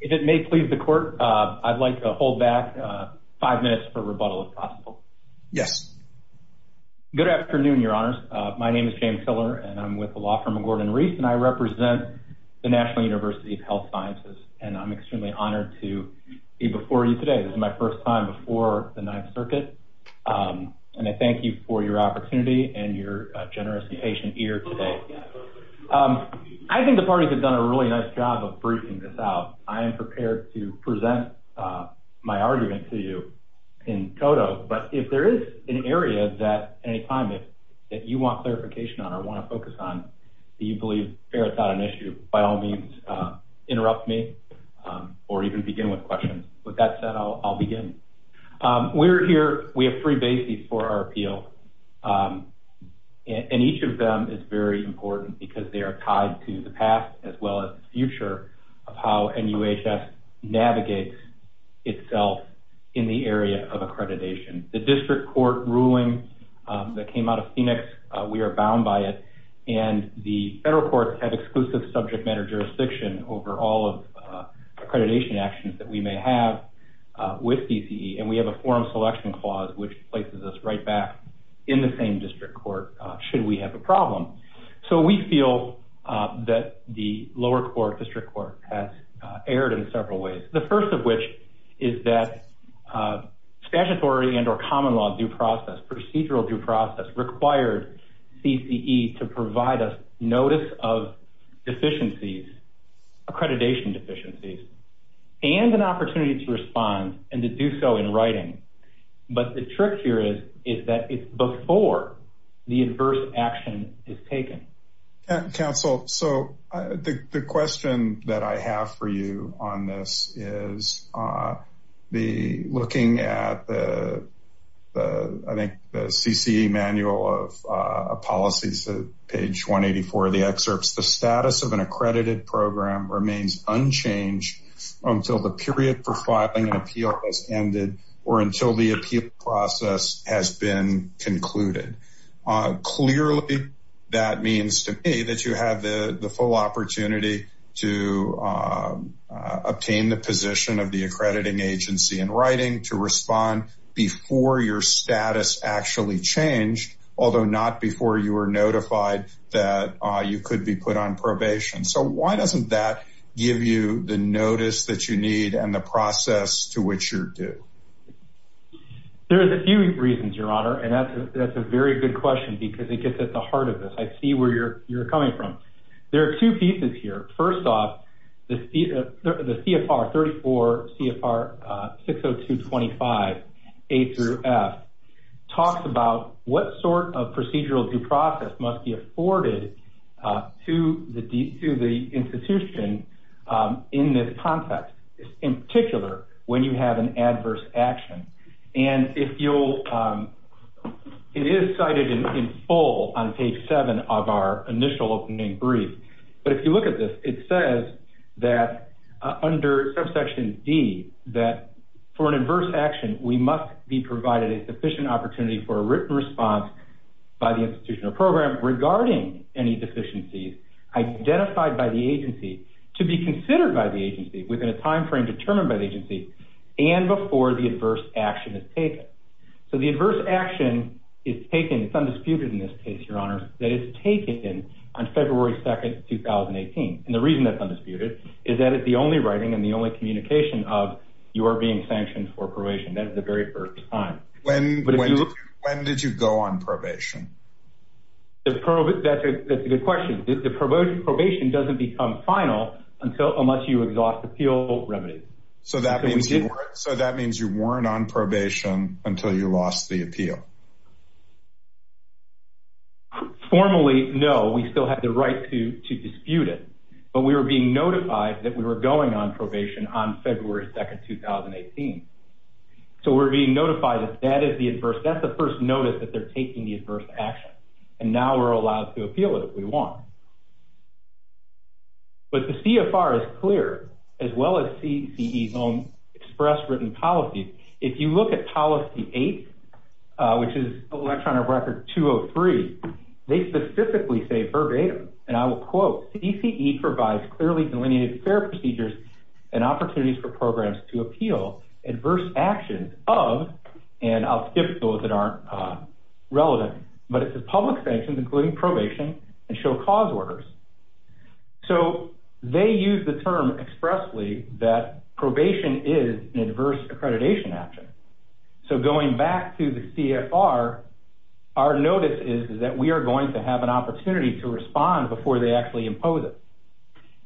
If it may please the court, I'd like to hold back five minutes for rebuttal, if possible. Yes. Good afternoon, Your Honors. My name is James Hiller, and I'm with the law firm of Gordon-Reese, and I represent the National University of Health Sciences, and I'm extremely honored to be before you today. This is my first time before the Ninth Circuit, and I thank you for your opportunity and your generous and patient ear today. I think the parties have done a really nice job of briefing this out. I am prepared to present my argument to you in toto, but if there is an area that at any time that you want clarification on or want to focus on that you believe ferrets out an issue, by all means interrupt me or even begin with questions. With that said, I'll begin. We're here, we have three bases for our appeal, and each of them is very important because they are tied to the past as well as the future of how NUHS navigates itself in the area of accreditation. The district court ruling that came out of Phoenix, we are bound by it, and the federal courts have exclusive subject matter jurisdiction over all of accreditation actions that we may have with CCE, and we have a forum selection clause which places us right back in the same district court should we have a problem. So we feel that the lower court, district court, has erred in several ways. The first of which is that statutory and or common law due process, procedural due process, required CCE to provide us notice of deficiencies, accreditation deficiencies, and an opportunity to respond and to do so in writing. But the trick here is that it's before the adverse action is taken. Council, so the question that I have for you on this is looking at the CCE manual of policies, page 184 of the excerpts, the status of an accredited program remains unchanged until the period for filing an appeal has ended or until the appeal process has been concluded. Clearly, that means to me that you have the full opportunity to obtain the position of the accrediting agency in writing, to respond before your status actually changed, although not before you were notified that you could be put on probation. So why doesn't that give you the notice that you need and the process to which you're due? There's a few reasons, Your Honor, and that's a very good question because it gets at the heart of this. I see where you're coming from. There are two pieces here. First off, the CFR, 34 CFR 602.25, A through F, talks about what sort of procedural due process must be afforded to the institution in this context, in particular when you have an adverse action. And it is cited in full on page 7 of our initial opening brief. But if you look at this, it says that under subsection D, that for an adverse action, we must be provided a sufficient opportunity for a written response by the institution or program regarding any deficiencies identified by the agency to be considered by the agency within a timeframe determined by the agency and before the adverse action is taken. So the adverse action is taken, it's undisputed in this case, Your Honor, that it's taken on February 2nd, 2018. And the reason that's undisputed is that it's the only writing and the only communication of you are being sanctioned for probation. That is the very first time. When did you go on probation? That's a good question. The probation doesn't become final unless you exhaust appeal remedies. So that means you weren't on probation until you lost the appeal? Formally, no. We still had the right to dispute it. But we were being notified that we were going on probation on February 2nd, 2018. So we're being notified that that is the adverse, that's the first notice that they're taking the adverse action. And now we're allowed to appeal it if we want. But the CFR is clear, as well as CCE's own express written policy. If you look at policy 8, which is electronic record 203, they specifically say verbatim, and I will quote, CCE provides clearly delineated fair procedures and opportunities for programs to appeal adverse actions of, and I'll skip those that aren't relevant. But it says public sanctions, including probation, and show cause orders. So they use the term expressly that probation is an adverse accreditation action. So going back to the CFR, our notice is that we are going to have an opportunity to respond before they actually impose it.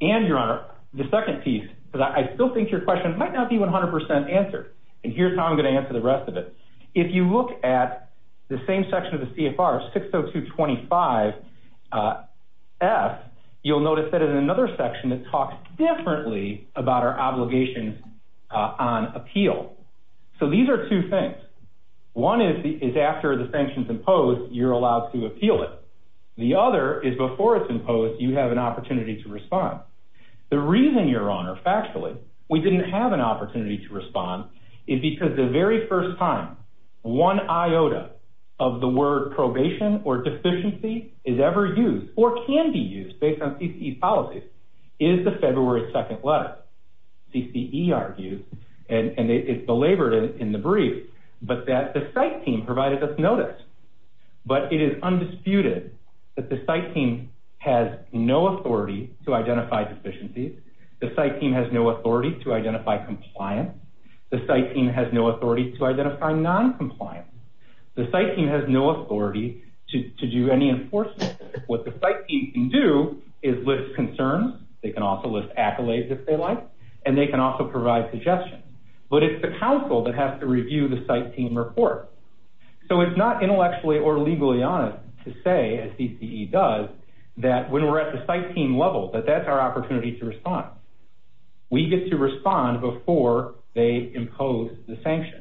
And, Your Honor, the second piece, because I still think your question might not be 100% answered, and here's how I'm going to answer the rest of it. If you look at the same section of the CFR, 60225F, you'll notice that in another section, it talks differently about our obligations on appeal. So these are two things. One is after the sanction's imposed, you're allowed to appeal it. The other is before it's imposed, you have an opportunity to respond. The reason, Your Honor, factually, we didn't have an opportunity to respond is because the very first time one iota of the word probation or deficiency is ever used or can be used based on CCE's policies is the February 2nd letter. CCE argues, and it's belabored in the brief, but that the site team provided us notice. But it is undisputed that the site team has no authority to identify deficiencies. The site team has no authority to identify compliance. The site team has no authority to identify noncompliance. The site team has no authority to do any enforcement. What the site team can do is list concerns. They can also list accolades, if they like, and they can also provide suggestions. But it's the counsel that has to review the site team report. So it's not intellectually or legally honest to say, as CCE does, that when we're at the site team level, that that's our opportunity to respond. We get to respond before they impose the sanction.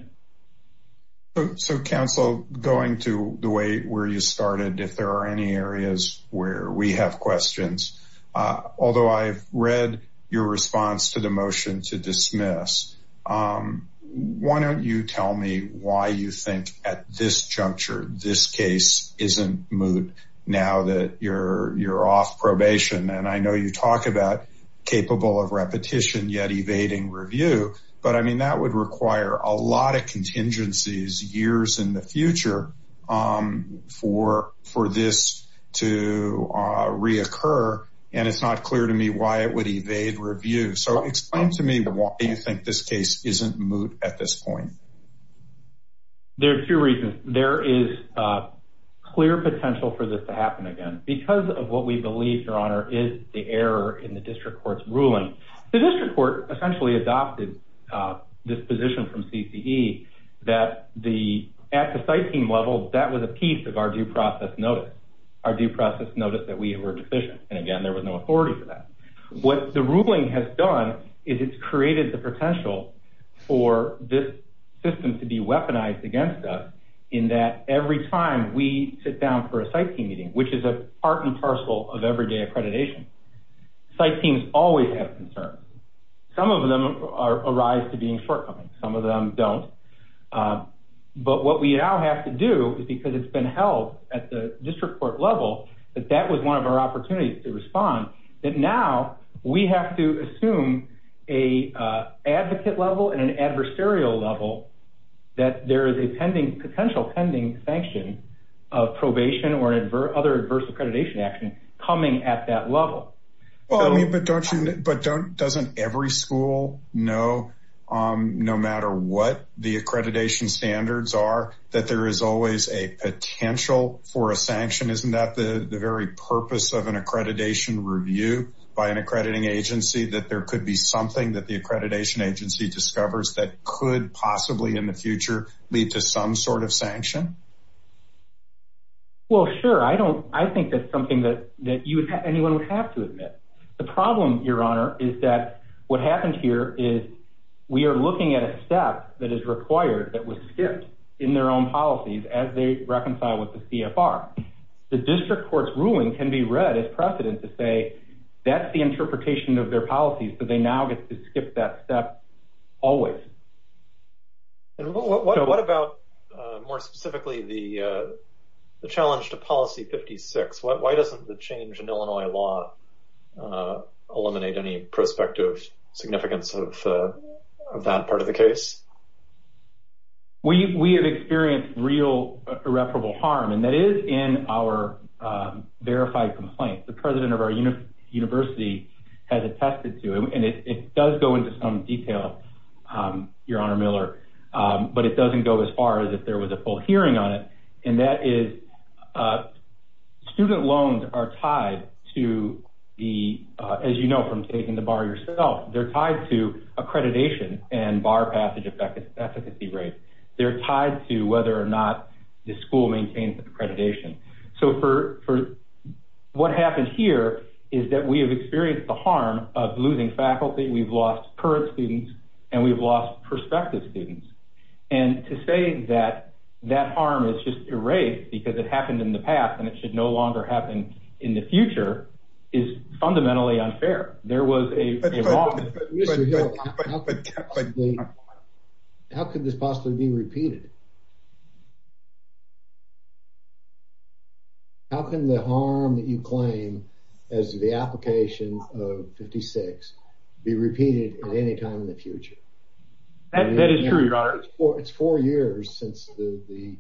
So, counsel, going to the way where you started, if there are any areas where we have questions, although I've read your response to the motion to dismiss, why don't you tell me why you think at this juncture, this case isn't moot now that you're off probation? And I know you talk about capable of repetition, yet evading review. But, I mean, that would require a lot of contingencies years in the future for this to reoccur. And it's not clear to me why it would evade review. So explain to me why you think this case isn't moot at this point. There are two reasons. There is clear potential for this to happen again. Because of what we believe, Your Honor, is the error in the district court's ruling. The district court essentially adopted this position from CCE that at the site team level, that was a piece of our due process notice. Our due process notice that we were deficient. And, again, there was no authority for that. What the ruling has done is it's created the potential for this system to be weaponized against us, in that every time we sit down for a site team meeting, which is a part and parcel of everyday accreditation, site teams always have concerns. Some of them arise to being shortcomings. Some of them don't. But what we now have to do is, because it's been held at the district court level, that that was one of our opportunities to respond, that now we have to assume a advocate level and an adversarial level that there is a potential pending sanction of probation or other adverse accreditation action coming at that level. But doesn't every school know, no matter what the accreditation standards are, that there is always a potential for a sanction? Isn't that the very purpose of an accreditation review by an accrediting agency, that there could be something that the accreditation agency discovers that could possibly in the future lead to some sort of sanction? Well, sure. I think that's something that anyone would have to admit. The problem, Your Honor, is that what happened here is we are looking at a step that is required that was skipped in their own policies as they reconcile with the CFR. The district court's ruling can be read as precedent to say that's the interpretation of their policies, but they now get to skip that step always. What about, more specifically, the challenge to Policy 56? Why doesn't the change in Illinois law eliminate any prospective significance of that part of the case? We have experienced real irreparable harm, and that is in our verified complaint. The president of our university has attested to it, and it does go into some detail, Your Honor Miller, but it doesn't go as far as if there was a full hearing on it. And that is student loans are tied to the, as you know from taking the bar yourself, they're tied to accreditation and bar passage efficacy rates. They're tied to whether or not the school maintains accreditation. So what happened here is that we have experienced the harm of losing faculty, we've lost current students, and we've lost prospective students. And to say that that harm is just erased because it happened in the past and it should no longer happen in the future is fundamentally unfair. There was a wrong. Mr. Hill, how could this possibly be repeated? How can the harm that you claim as the application of 56 be repeated at any time in the future? That is true, Your Honor. It's four years since the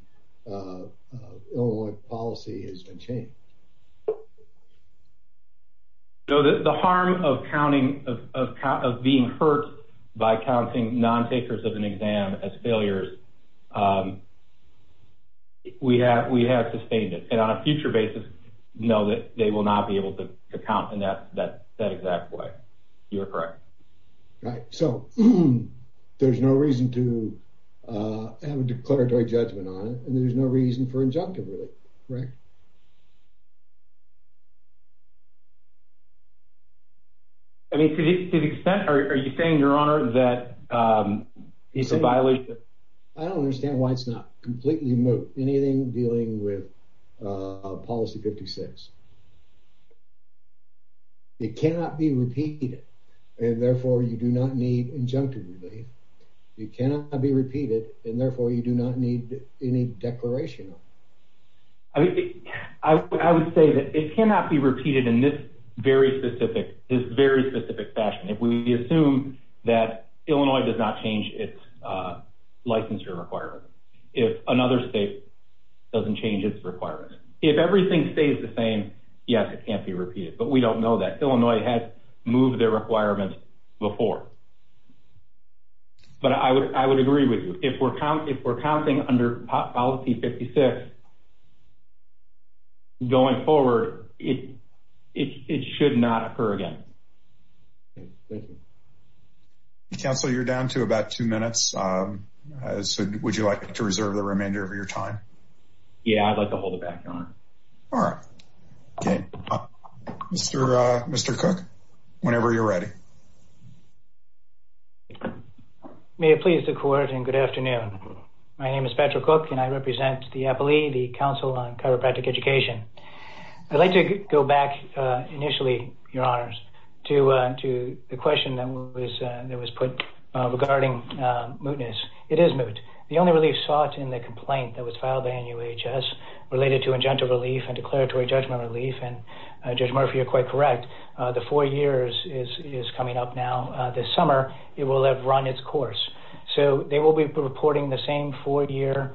Illinois policy has been changed. The harm of being hurt by counting non-takers of an exam as failures, we have sustained it. And on a future basis, know that they will not be able to count in that exact way. You are correct. Right. So there's no reason to have a declaratory judgment on it, and there's no reason for injunctive relief, correct? I mean, to the extent, are you saying, Your Honor, that it's a violation? I don't understand why it's not completely moot, anything dealing with policy 56. It cannot be repeated, and therefore you do not need injunctive relief. It cannot be repeated, and therefore you do not need any declaration of it. I would say that it cannot be repeated in this very specific fashion. If we assume that Illinois does not change its licensure requirements, if another state doesn't change its requirements, if everything stays the same, yes, it can't be repeated. But we don't know that. Illinois has moved their requirements before. But I would agree with you. If we're counting under policy 56 going forward, it should not occur again. Counselor, you're down to about two minutes. Would you like to reserve the remainder of your time? Yeah, I'd like to hold it back, Your Honor. All right. Okay. Mr. Cook, whenever you're ready. May it please the Court, and good afternoon. My name is Patrick Cook, and I represent the APALE, the Council on Chiropractic Education. I'd like to go back initially, Your Honors, to the question that was put regarding mootness. It is moot. The only relief sought in the complaint that was filed by NUHS related to injunctive relief and declaratory judgment relief, and Judge Murphy, you're quite correct, the four years is coming up now. This summer, it will have run its course. So they will be reporting the same four-year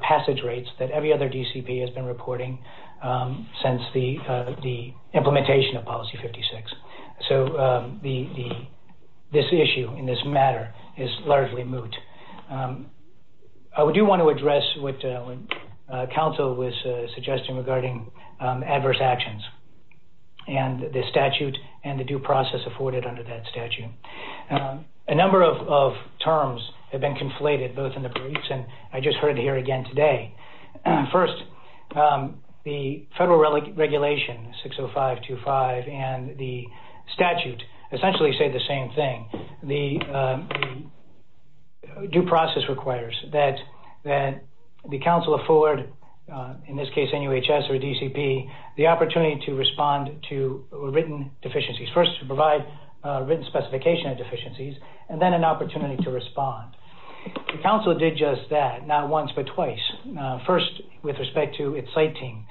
passage rates that every other DCP has been reporting since the implementation of policy 56. So this issue in this matter is largely moot. I do want to address what counsel was suggesting regarding adverse actions and the statute and the due process afforded under that statute. A number of terms have been conflated both in the briefs, and I just heard it here again today. First, the federal regulation, 60525, and the statute essentially say the same thing. The due process requires that the council afford, in this case NUHS or DCP, the opportunity to respond to written deficiencies, first to provide written specification of deficiencies, and then an opportunity to respond. The council did just that, not once but twice. First, with respect to its site team.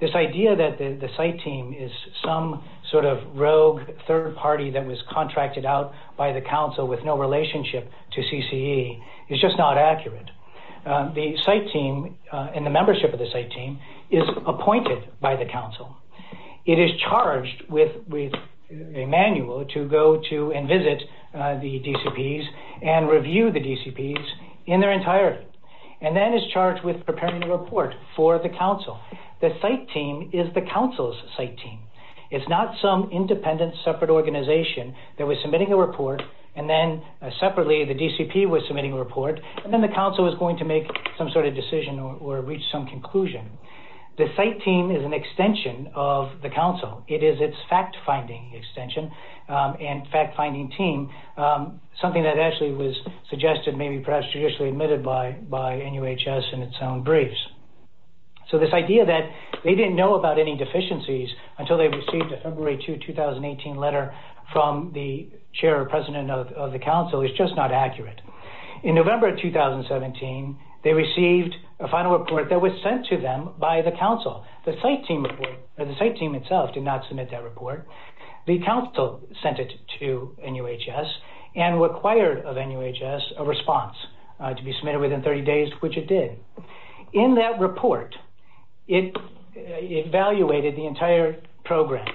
This idea that the site team is some sort of rogue third party that was contracted out by the council with no relationship to CCE is just not accurate. The site team and the membership of the site team is appointed by the council. It is charged with a manual to go to and visit the DCPs and review the DCPs in their entirety, and then is charged with preparing a report for the council. The site team is the council's site team. It's not some independent separate organization that was submitting a report and then separately the DCP was submitting a report, and then the council was going to make some sort of decision or reach some conclusion. The site team is an extension of the council. It is its fact-finding extension and fact-finding team, something that actually was suggested maybe perhaps traditionally admitted by NUHS in its own briefs. So this idea that they didn't know about any deficiencies until they received a February 2, 2018 letter from the chair or president of the council is just not accurate. In November 2017, they received a final report that was sent to them by the council. The site team itself did not submit that report. The council sent it to NUHS and required of NUHS a response to be submitted within 30 days, which it did. In that report, it evaluated the entire program,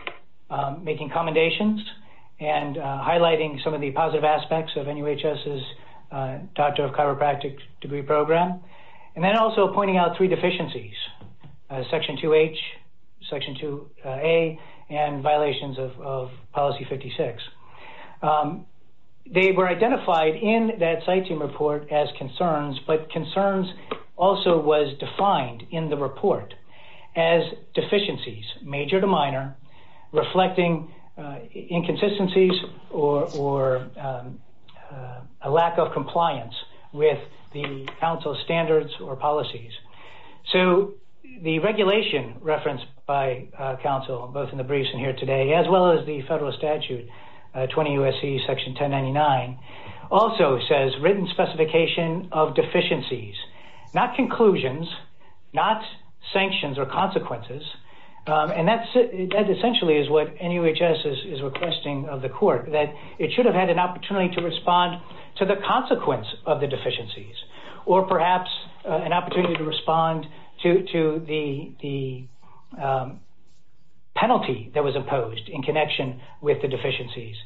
making commendations and highlighting some of the positive aspects of NUHS's doctor of chiropractic degree program, and then also pointing out three deficiencies, section 2H, section 2A, and violations of policy 56. They were identified in that site team report as concerns, but concerns also was defined in the report as deficiencies, major to minor, reflecting inconsistencies or a lack of compliance with the council's standards or policies. The regulation referenced by council, both in the briefs and here today, as well as the federal statute, 20 U.S.C. section 1099, also says written specification of deficiencies, not conclusions, not sanctions or consequences, and that essentially is what NUHS is requesting of the court, that it should have had an opportunity to respond to the consequence of the deficiencies or perhaps an opportunity to respond to the penalty that was imposed in connection with the deficiencies.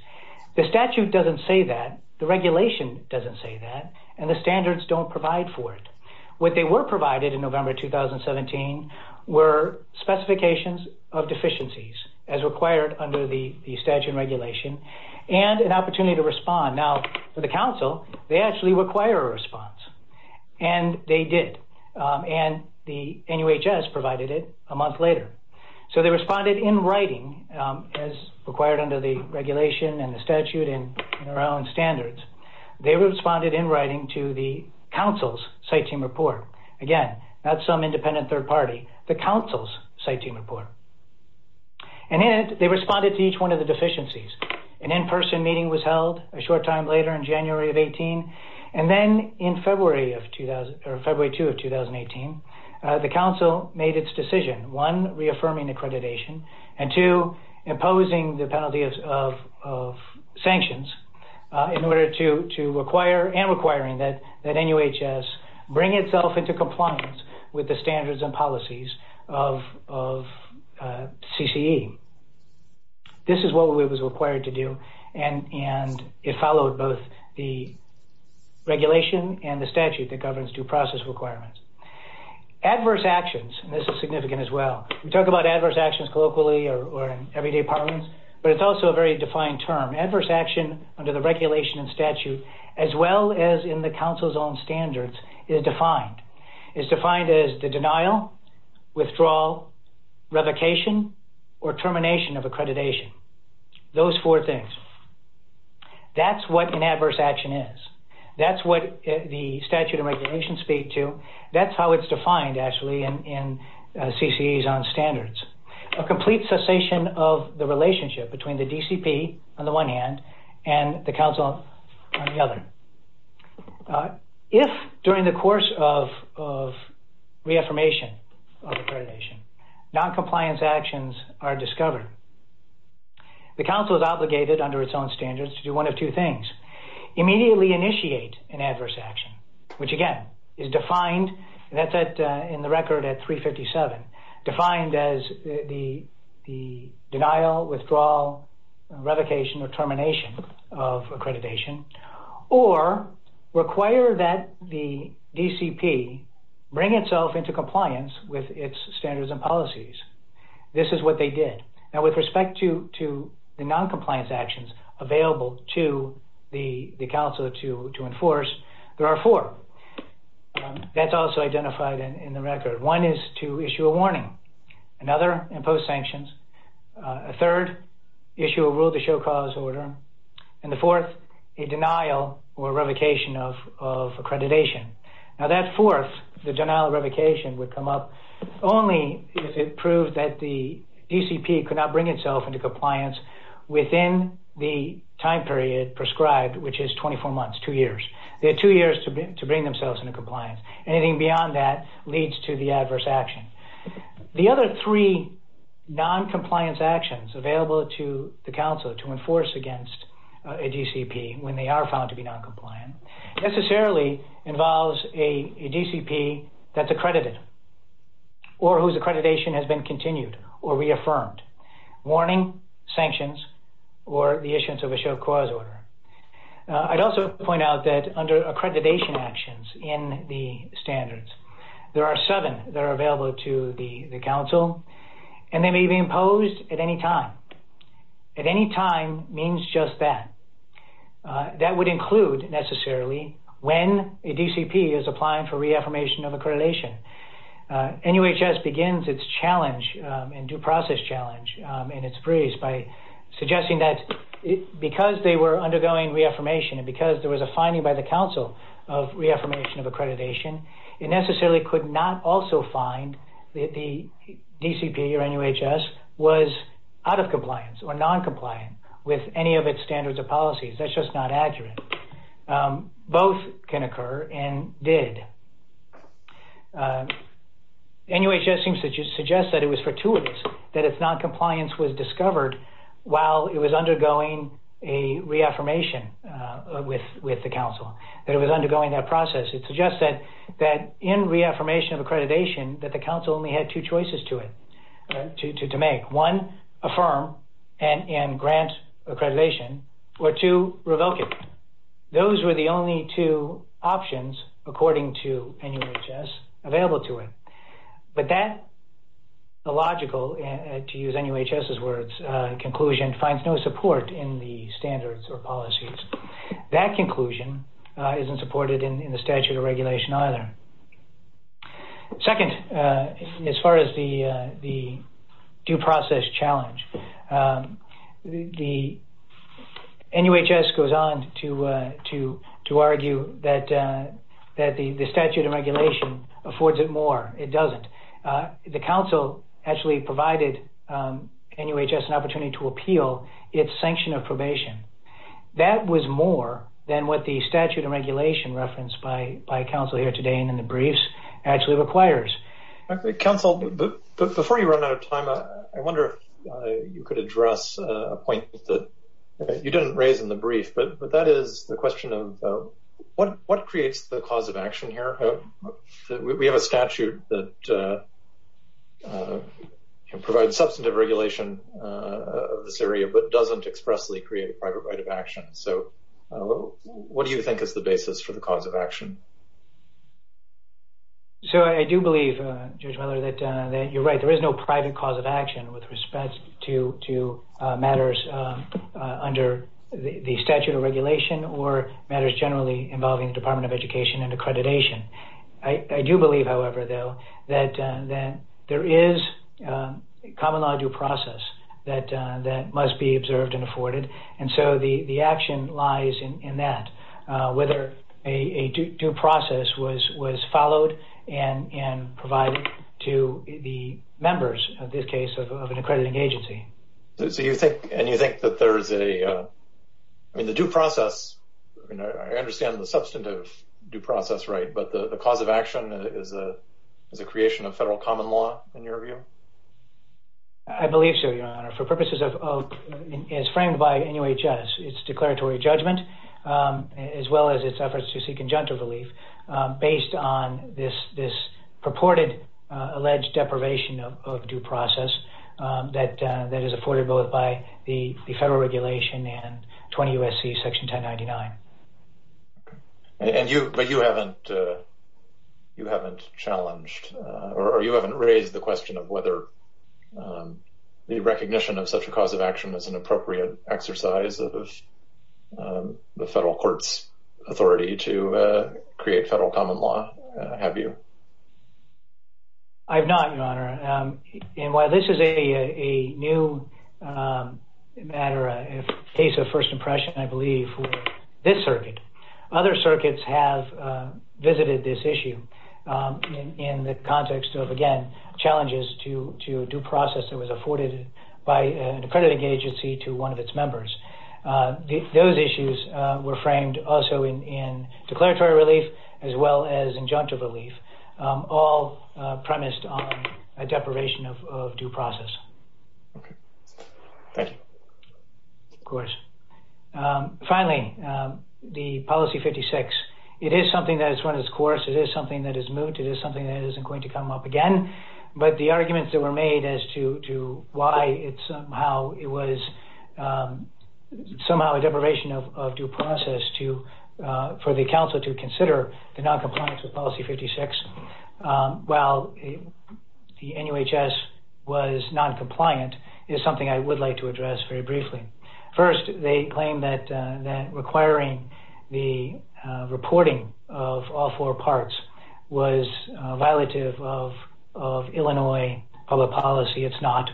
The statute doesn't say that. The regulation doesn't say that, and the standards don't provide for it. What they were provided in November 2017 were specifications of deficiencies as required under the statute and regulation and an opportunity to respond. Now, for the council, they actually require a response, and they did, and the NUHS provided it a month later. So they responded in writing as required under the regulation and the statute and their own standards. They responded in writing to the council's site team report. Again, not some independent third party, the council's site team report. And in it, they responded to each one of the deficiencies. An in-person meeting was held a short time later in January of 18, and then in February 2 of 2018, the council made its decision, one, reaffirming accreditation, and two, imposing the penalty of sanctions in order to require and requiring that NUHS bring itself into compliance with the standards and policies of CCE. This is what we was required to do, and it followed both the regulation and the statute that governs due process requirements. Adverse actions, and this is significant as well. We talk about adverse actions colloquially or in everyday parlance, but it's also a very defined term. Adverse action under the regulation and statute, as well as in the council's own standards, is defined. It's defined as the denial, withdrawal, revocation, or termination of accreditation. Those four things. That's what an adverse action is. That's what the statute and regulations speak to. That's how it's defined, actually, in CCE's own standards. A complete cessation of the relationship between the DCP on the one hand and the council on the other. If during the course of reaffirmation of accreditation, noncompliance actions are discovered, the council is obligated under its own standards to do one of two things. Immediately initiate an adverse action, which, again, is defined. That's in the record at 357. Defined as the denial, withdrawal, revocation, or termination of accreditation, or require that the DCP bring itself into compliance with its standards and policies. This is what they did. Now, with respect to the noncompliance actions available to the council to enforce, there are four. That's also identified in the record. One is to issue a warning. Another, impose sanctions. A third, issue a rule to show cause order. And the fourth, a denial or revocation of accreditation. Now, that fourth, the denial or revocation, would come up only if it proved that the DCP could not bring itself into compliance within the time period prescribed, which is 24 months, two years. They had two years to bring themselves into compliance. Anything beyond that leads to the adverse action. The other three noncompliance actions available to the council to enforce against a DCP when they are found to be noncompliant necessarily involves a DCP that's accredited or whose accreditation has been continued or reaffirmed. Warning, sanctions, or the issuance of a show cause order. I'd also point out that under accreditation actions in the standards, there are seven that are available to the council, and they may be imposed at any time. At any time means just that. That would include necessarily when a DCP is applying for reaffirmation of accreditation. NUHS begins its challenge and due process challenge in its briefs by suggesting that because they were undergoing reaffirmation and because there was a finding by the council of reaffirmation of accreditation, it necessarily could not also find that the DCP or NUHS was out of compliance or noncompliant with any of its standards or policies. That's just not accurate. Both can occur and did. NUHS suggests that it was fortuitous that its noncompliance was discovered while it was undergoing a reaffirmation with the council, that it was undergoing that process. It suggests that in reaffirmation of accreditation, that the council only had two choices to make. One, affirm and grant accreditation, or two, revoke it. Those were the only two options, according to NUHS, available to it. But that illogical, to use NUHS's words, conclusion finds no support in the standards or policies. That conclusion isn't supported in the statute of regulation either. Second, as far as the due process challenge, the NUHS goes on to argue that the statute of regulation affords it more. It doesn't. The council actually provided NUHS an opportunity to appeal its sanction of probation. That was more than what the statute of regulation referenced by council here today and in the briefs actually requires. Okay. Council, before you run out of time, I wonder if you could address a point that you didn't raise in the brief, but that is the question of what creates the cause of action here? We have a statute that provides substantive regulation of this area, but doesn't expressly create a private right of action. So what do you think is the basis for the cause of action? So I do believe, Judge Mueller, that you're right. There is no private cause of action with respect to matters under the statute of regulation or matters generally involving the Department of Education and accreditation. I do believe, however, though, that there is a common law due process that must be observed and afforded. And so the action lies in that, whether a due process was followed and provided to the members, in this case, of an accrediting agency. And you think that there is a – I mean, the due process, I understand the substantive due process, right, but the cause of action is a creation of federal common law, in your view? I believe so, Your Honor. For purposes of – as framed by NUHS, it's declaratory judgment, as well as its efforts to seek injunctive relief, based on this purported alleged deprivation of due process that is afforded both by the federal regulation and 20 U.S.C. Section 1099. And you – but you haven't challenged or you haven't raised the question of whether the recognition of such a cause of action is an appropriate exercise of the federal court's authority to create federal common law, have you? I have not, Your Honor. And while this is a new matter, a case of first impression, I believe, would be for this circuit. Other circuits have visited this issue in the context of, again, challenges to due process that was afforded by an accrediting agency to one of its members. Those issues were framed also in declaratory relief as well as injunctive relief, all premised on a deprivation of due process. Okay. Thank you. Of course. Finally, the Policy 56. It is something that has run its course. It is something that is moot. It is something that isn't going to come up again. But the arguments that were made as to why it somehow – it was somehow a deprivation of due process to – for the counsel to consider the noncompliance with Policy 56 while the NUHS was noncompliant is something I would like to address very briefly. First, they claim that requiring the reporting of all four parts was violative of Illinois public policy. It's not.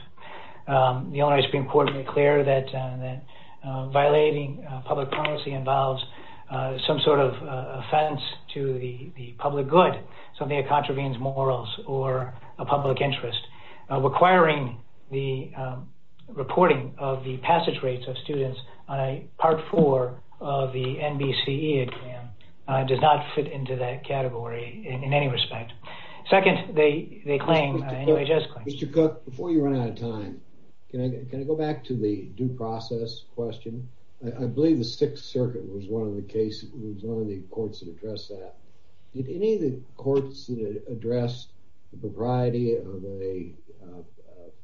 The Illinois Supreme Court declared that violating public policy involves some sort of offense to the public good, something that contravenes morals or a public interest. Requiring the reporting of the passage rates of students on a Part 4 of the NBCE does not fit into that category in any respect. Second, they claim – NUHS claims – Mr. Cook, before you run out of time, can I go back to the due process question? I believe the Sixth Circuit was one of the courts that addressed that. Did any of the courts address the propriety of a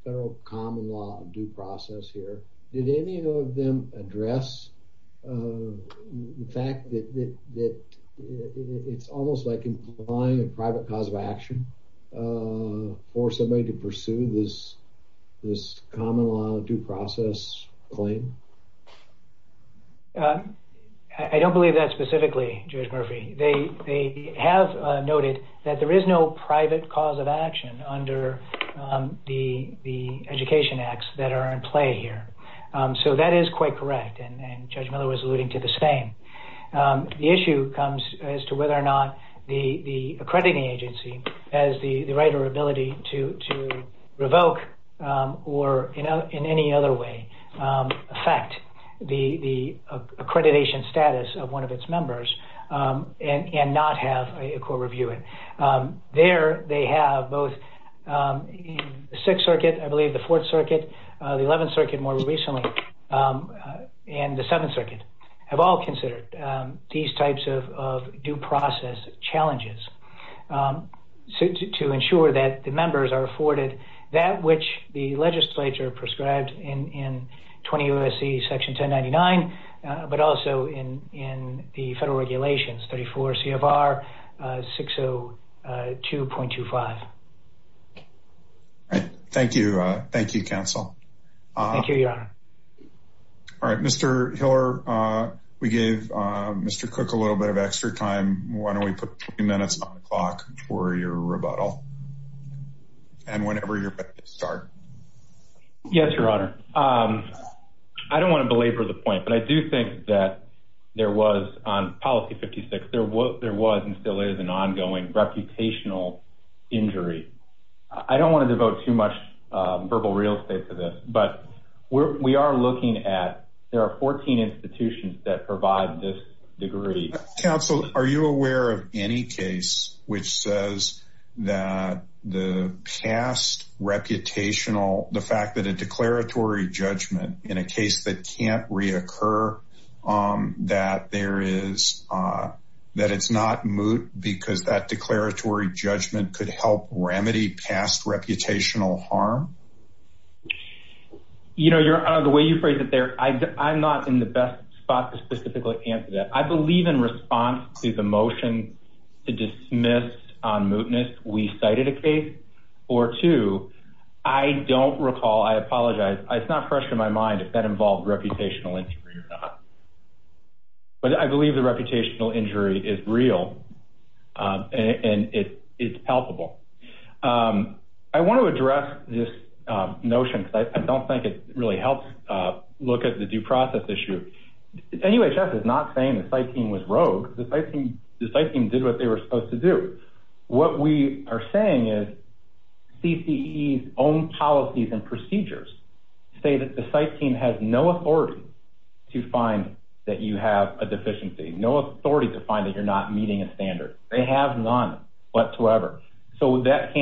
federal common law due process here? Did any of them address the fact that it's almost like implying a private cause of action for somebody to pursue this common law due process claim? I don't believe that specifically, Judge Murphy. They have noted that there is no private cause of action under the education acts that are in play here. So that is quite correct, and Judge Miller was alluding to the same. The issue comes as to whether or not the accrediting agency has the right or ability to revoke or in any other way affect the accreditation status of one of its members and not have a court review it. There they have both the Sixth Circuit, I believe the Fourth Circuit, the Eleventh Circuit more recently, and the Seventh Circuit, have all considered these types of due process challenges to ensure that the members are afforded that which the legislature prescribed in 20 U.S.C. Section 1099, but also in the federal regulations, 34 CFR 602.25. Thank you, counsel. Thank you, Your Honor. All right, Mr. Hiller, we gave Mr. Cook a little bit of extra time. Why don't we put 20 minutes on the clock for your rebuttal, and whenever you're ready to start. Yes, Your Honor. I don't want to belabor the point, but I do think that there was on policy 56, there was and still is an ongoing reputational injury. I don't want to devote too much verbal real estate to this, but we are looking at there are 14 institutions that provide this degree. Counsel, are you aware of any case which says that the past reputational, the fact that a declaratory judgment in a case that can't reoccur, that it's not moot because that declaratory judgment could help remedy past reputational harm? Your Honor, the way you phrase it there, I'm not in the best spot to specifically answer that. I believe in response to the motion to dismiss on mootness, we cited a case or two. I don't recall, I apologize. It's not fresh in my mind if that involved reputational injury or not. But I believe the reputational injury is real and it's palpable. I want to address this notion because I don't think it really helps look at the due process issue. NUHS is not saying the site team was rogue. The site team did what they were supposed to do. What we are saying is CCE's own policies and procedures say that the site team has no authority to find that you have a deficiency, no authority to find that you're not meeting a standard. They have none whatsoever. So that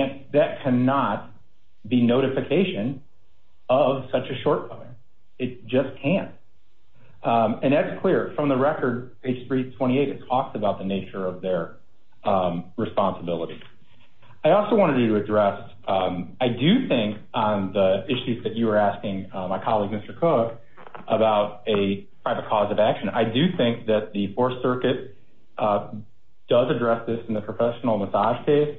cannot be notification of such a shortcoming. It just can't. And that's clear. From the record, page 328, it talks about the nature of their responsibility. I also wanted to address, I do think on the issues that you were asking my colleague, Mr. Cook, about a private cause of action. I do think that the Fourth Circuit does address this in the professional massage case.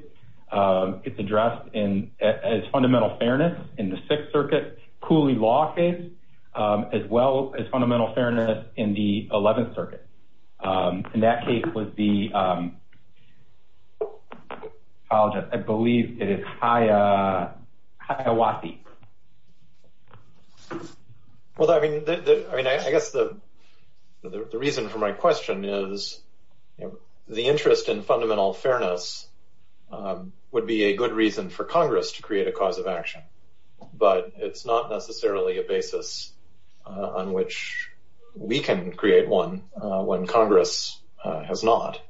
It's addressed as fundamental fairness in the Sixth Circuit, Cooley Law case, as well as fundamental fairness in the Eleventh Circuit. In that case, I believe it is Hiawathi. Well, I mean, I guess the reason for my question is the interest in fundamental fairness would be a good reason for Congress to create a cause of action. But it's not necessarily a basis on which we can create one when Congress has not.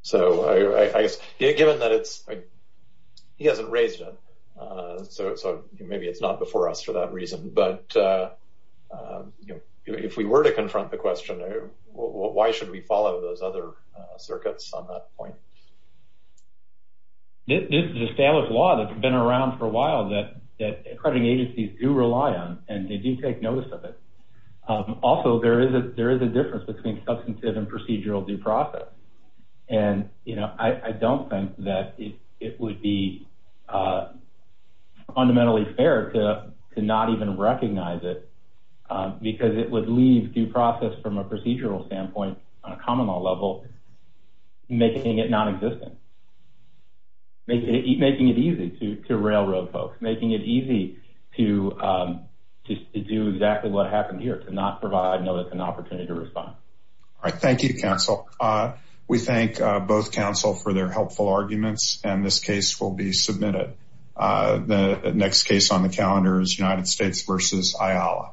So given that it's – he hasn't raised it, so maybe it's not before us for that reason. But if we were to confront the question, why should we follow those other circuits on that point? This is a standard law that's been around for a while that accrediting agencies do rely on, and they do take notice of it. Also, there is a difference between substantive and procedural due process. And, you know, I don't think that it would be fundamentally fair to not even recognize it because it would leave due process from a procedural standpoint on a common law level, making it nonexistent, making it easy to railroad folks, making it easy to do exactly what happened here, to not provide notice and opportunity to respond. All right. Thank you, counsel. We thank both counsel for their helpful arguments, and this case will be submitted. The next case on the calendar is United States v. Ayala.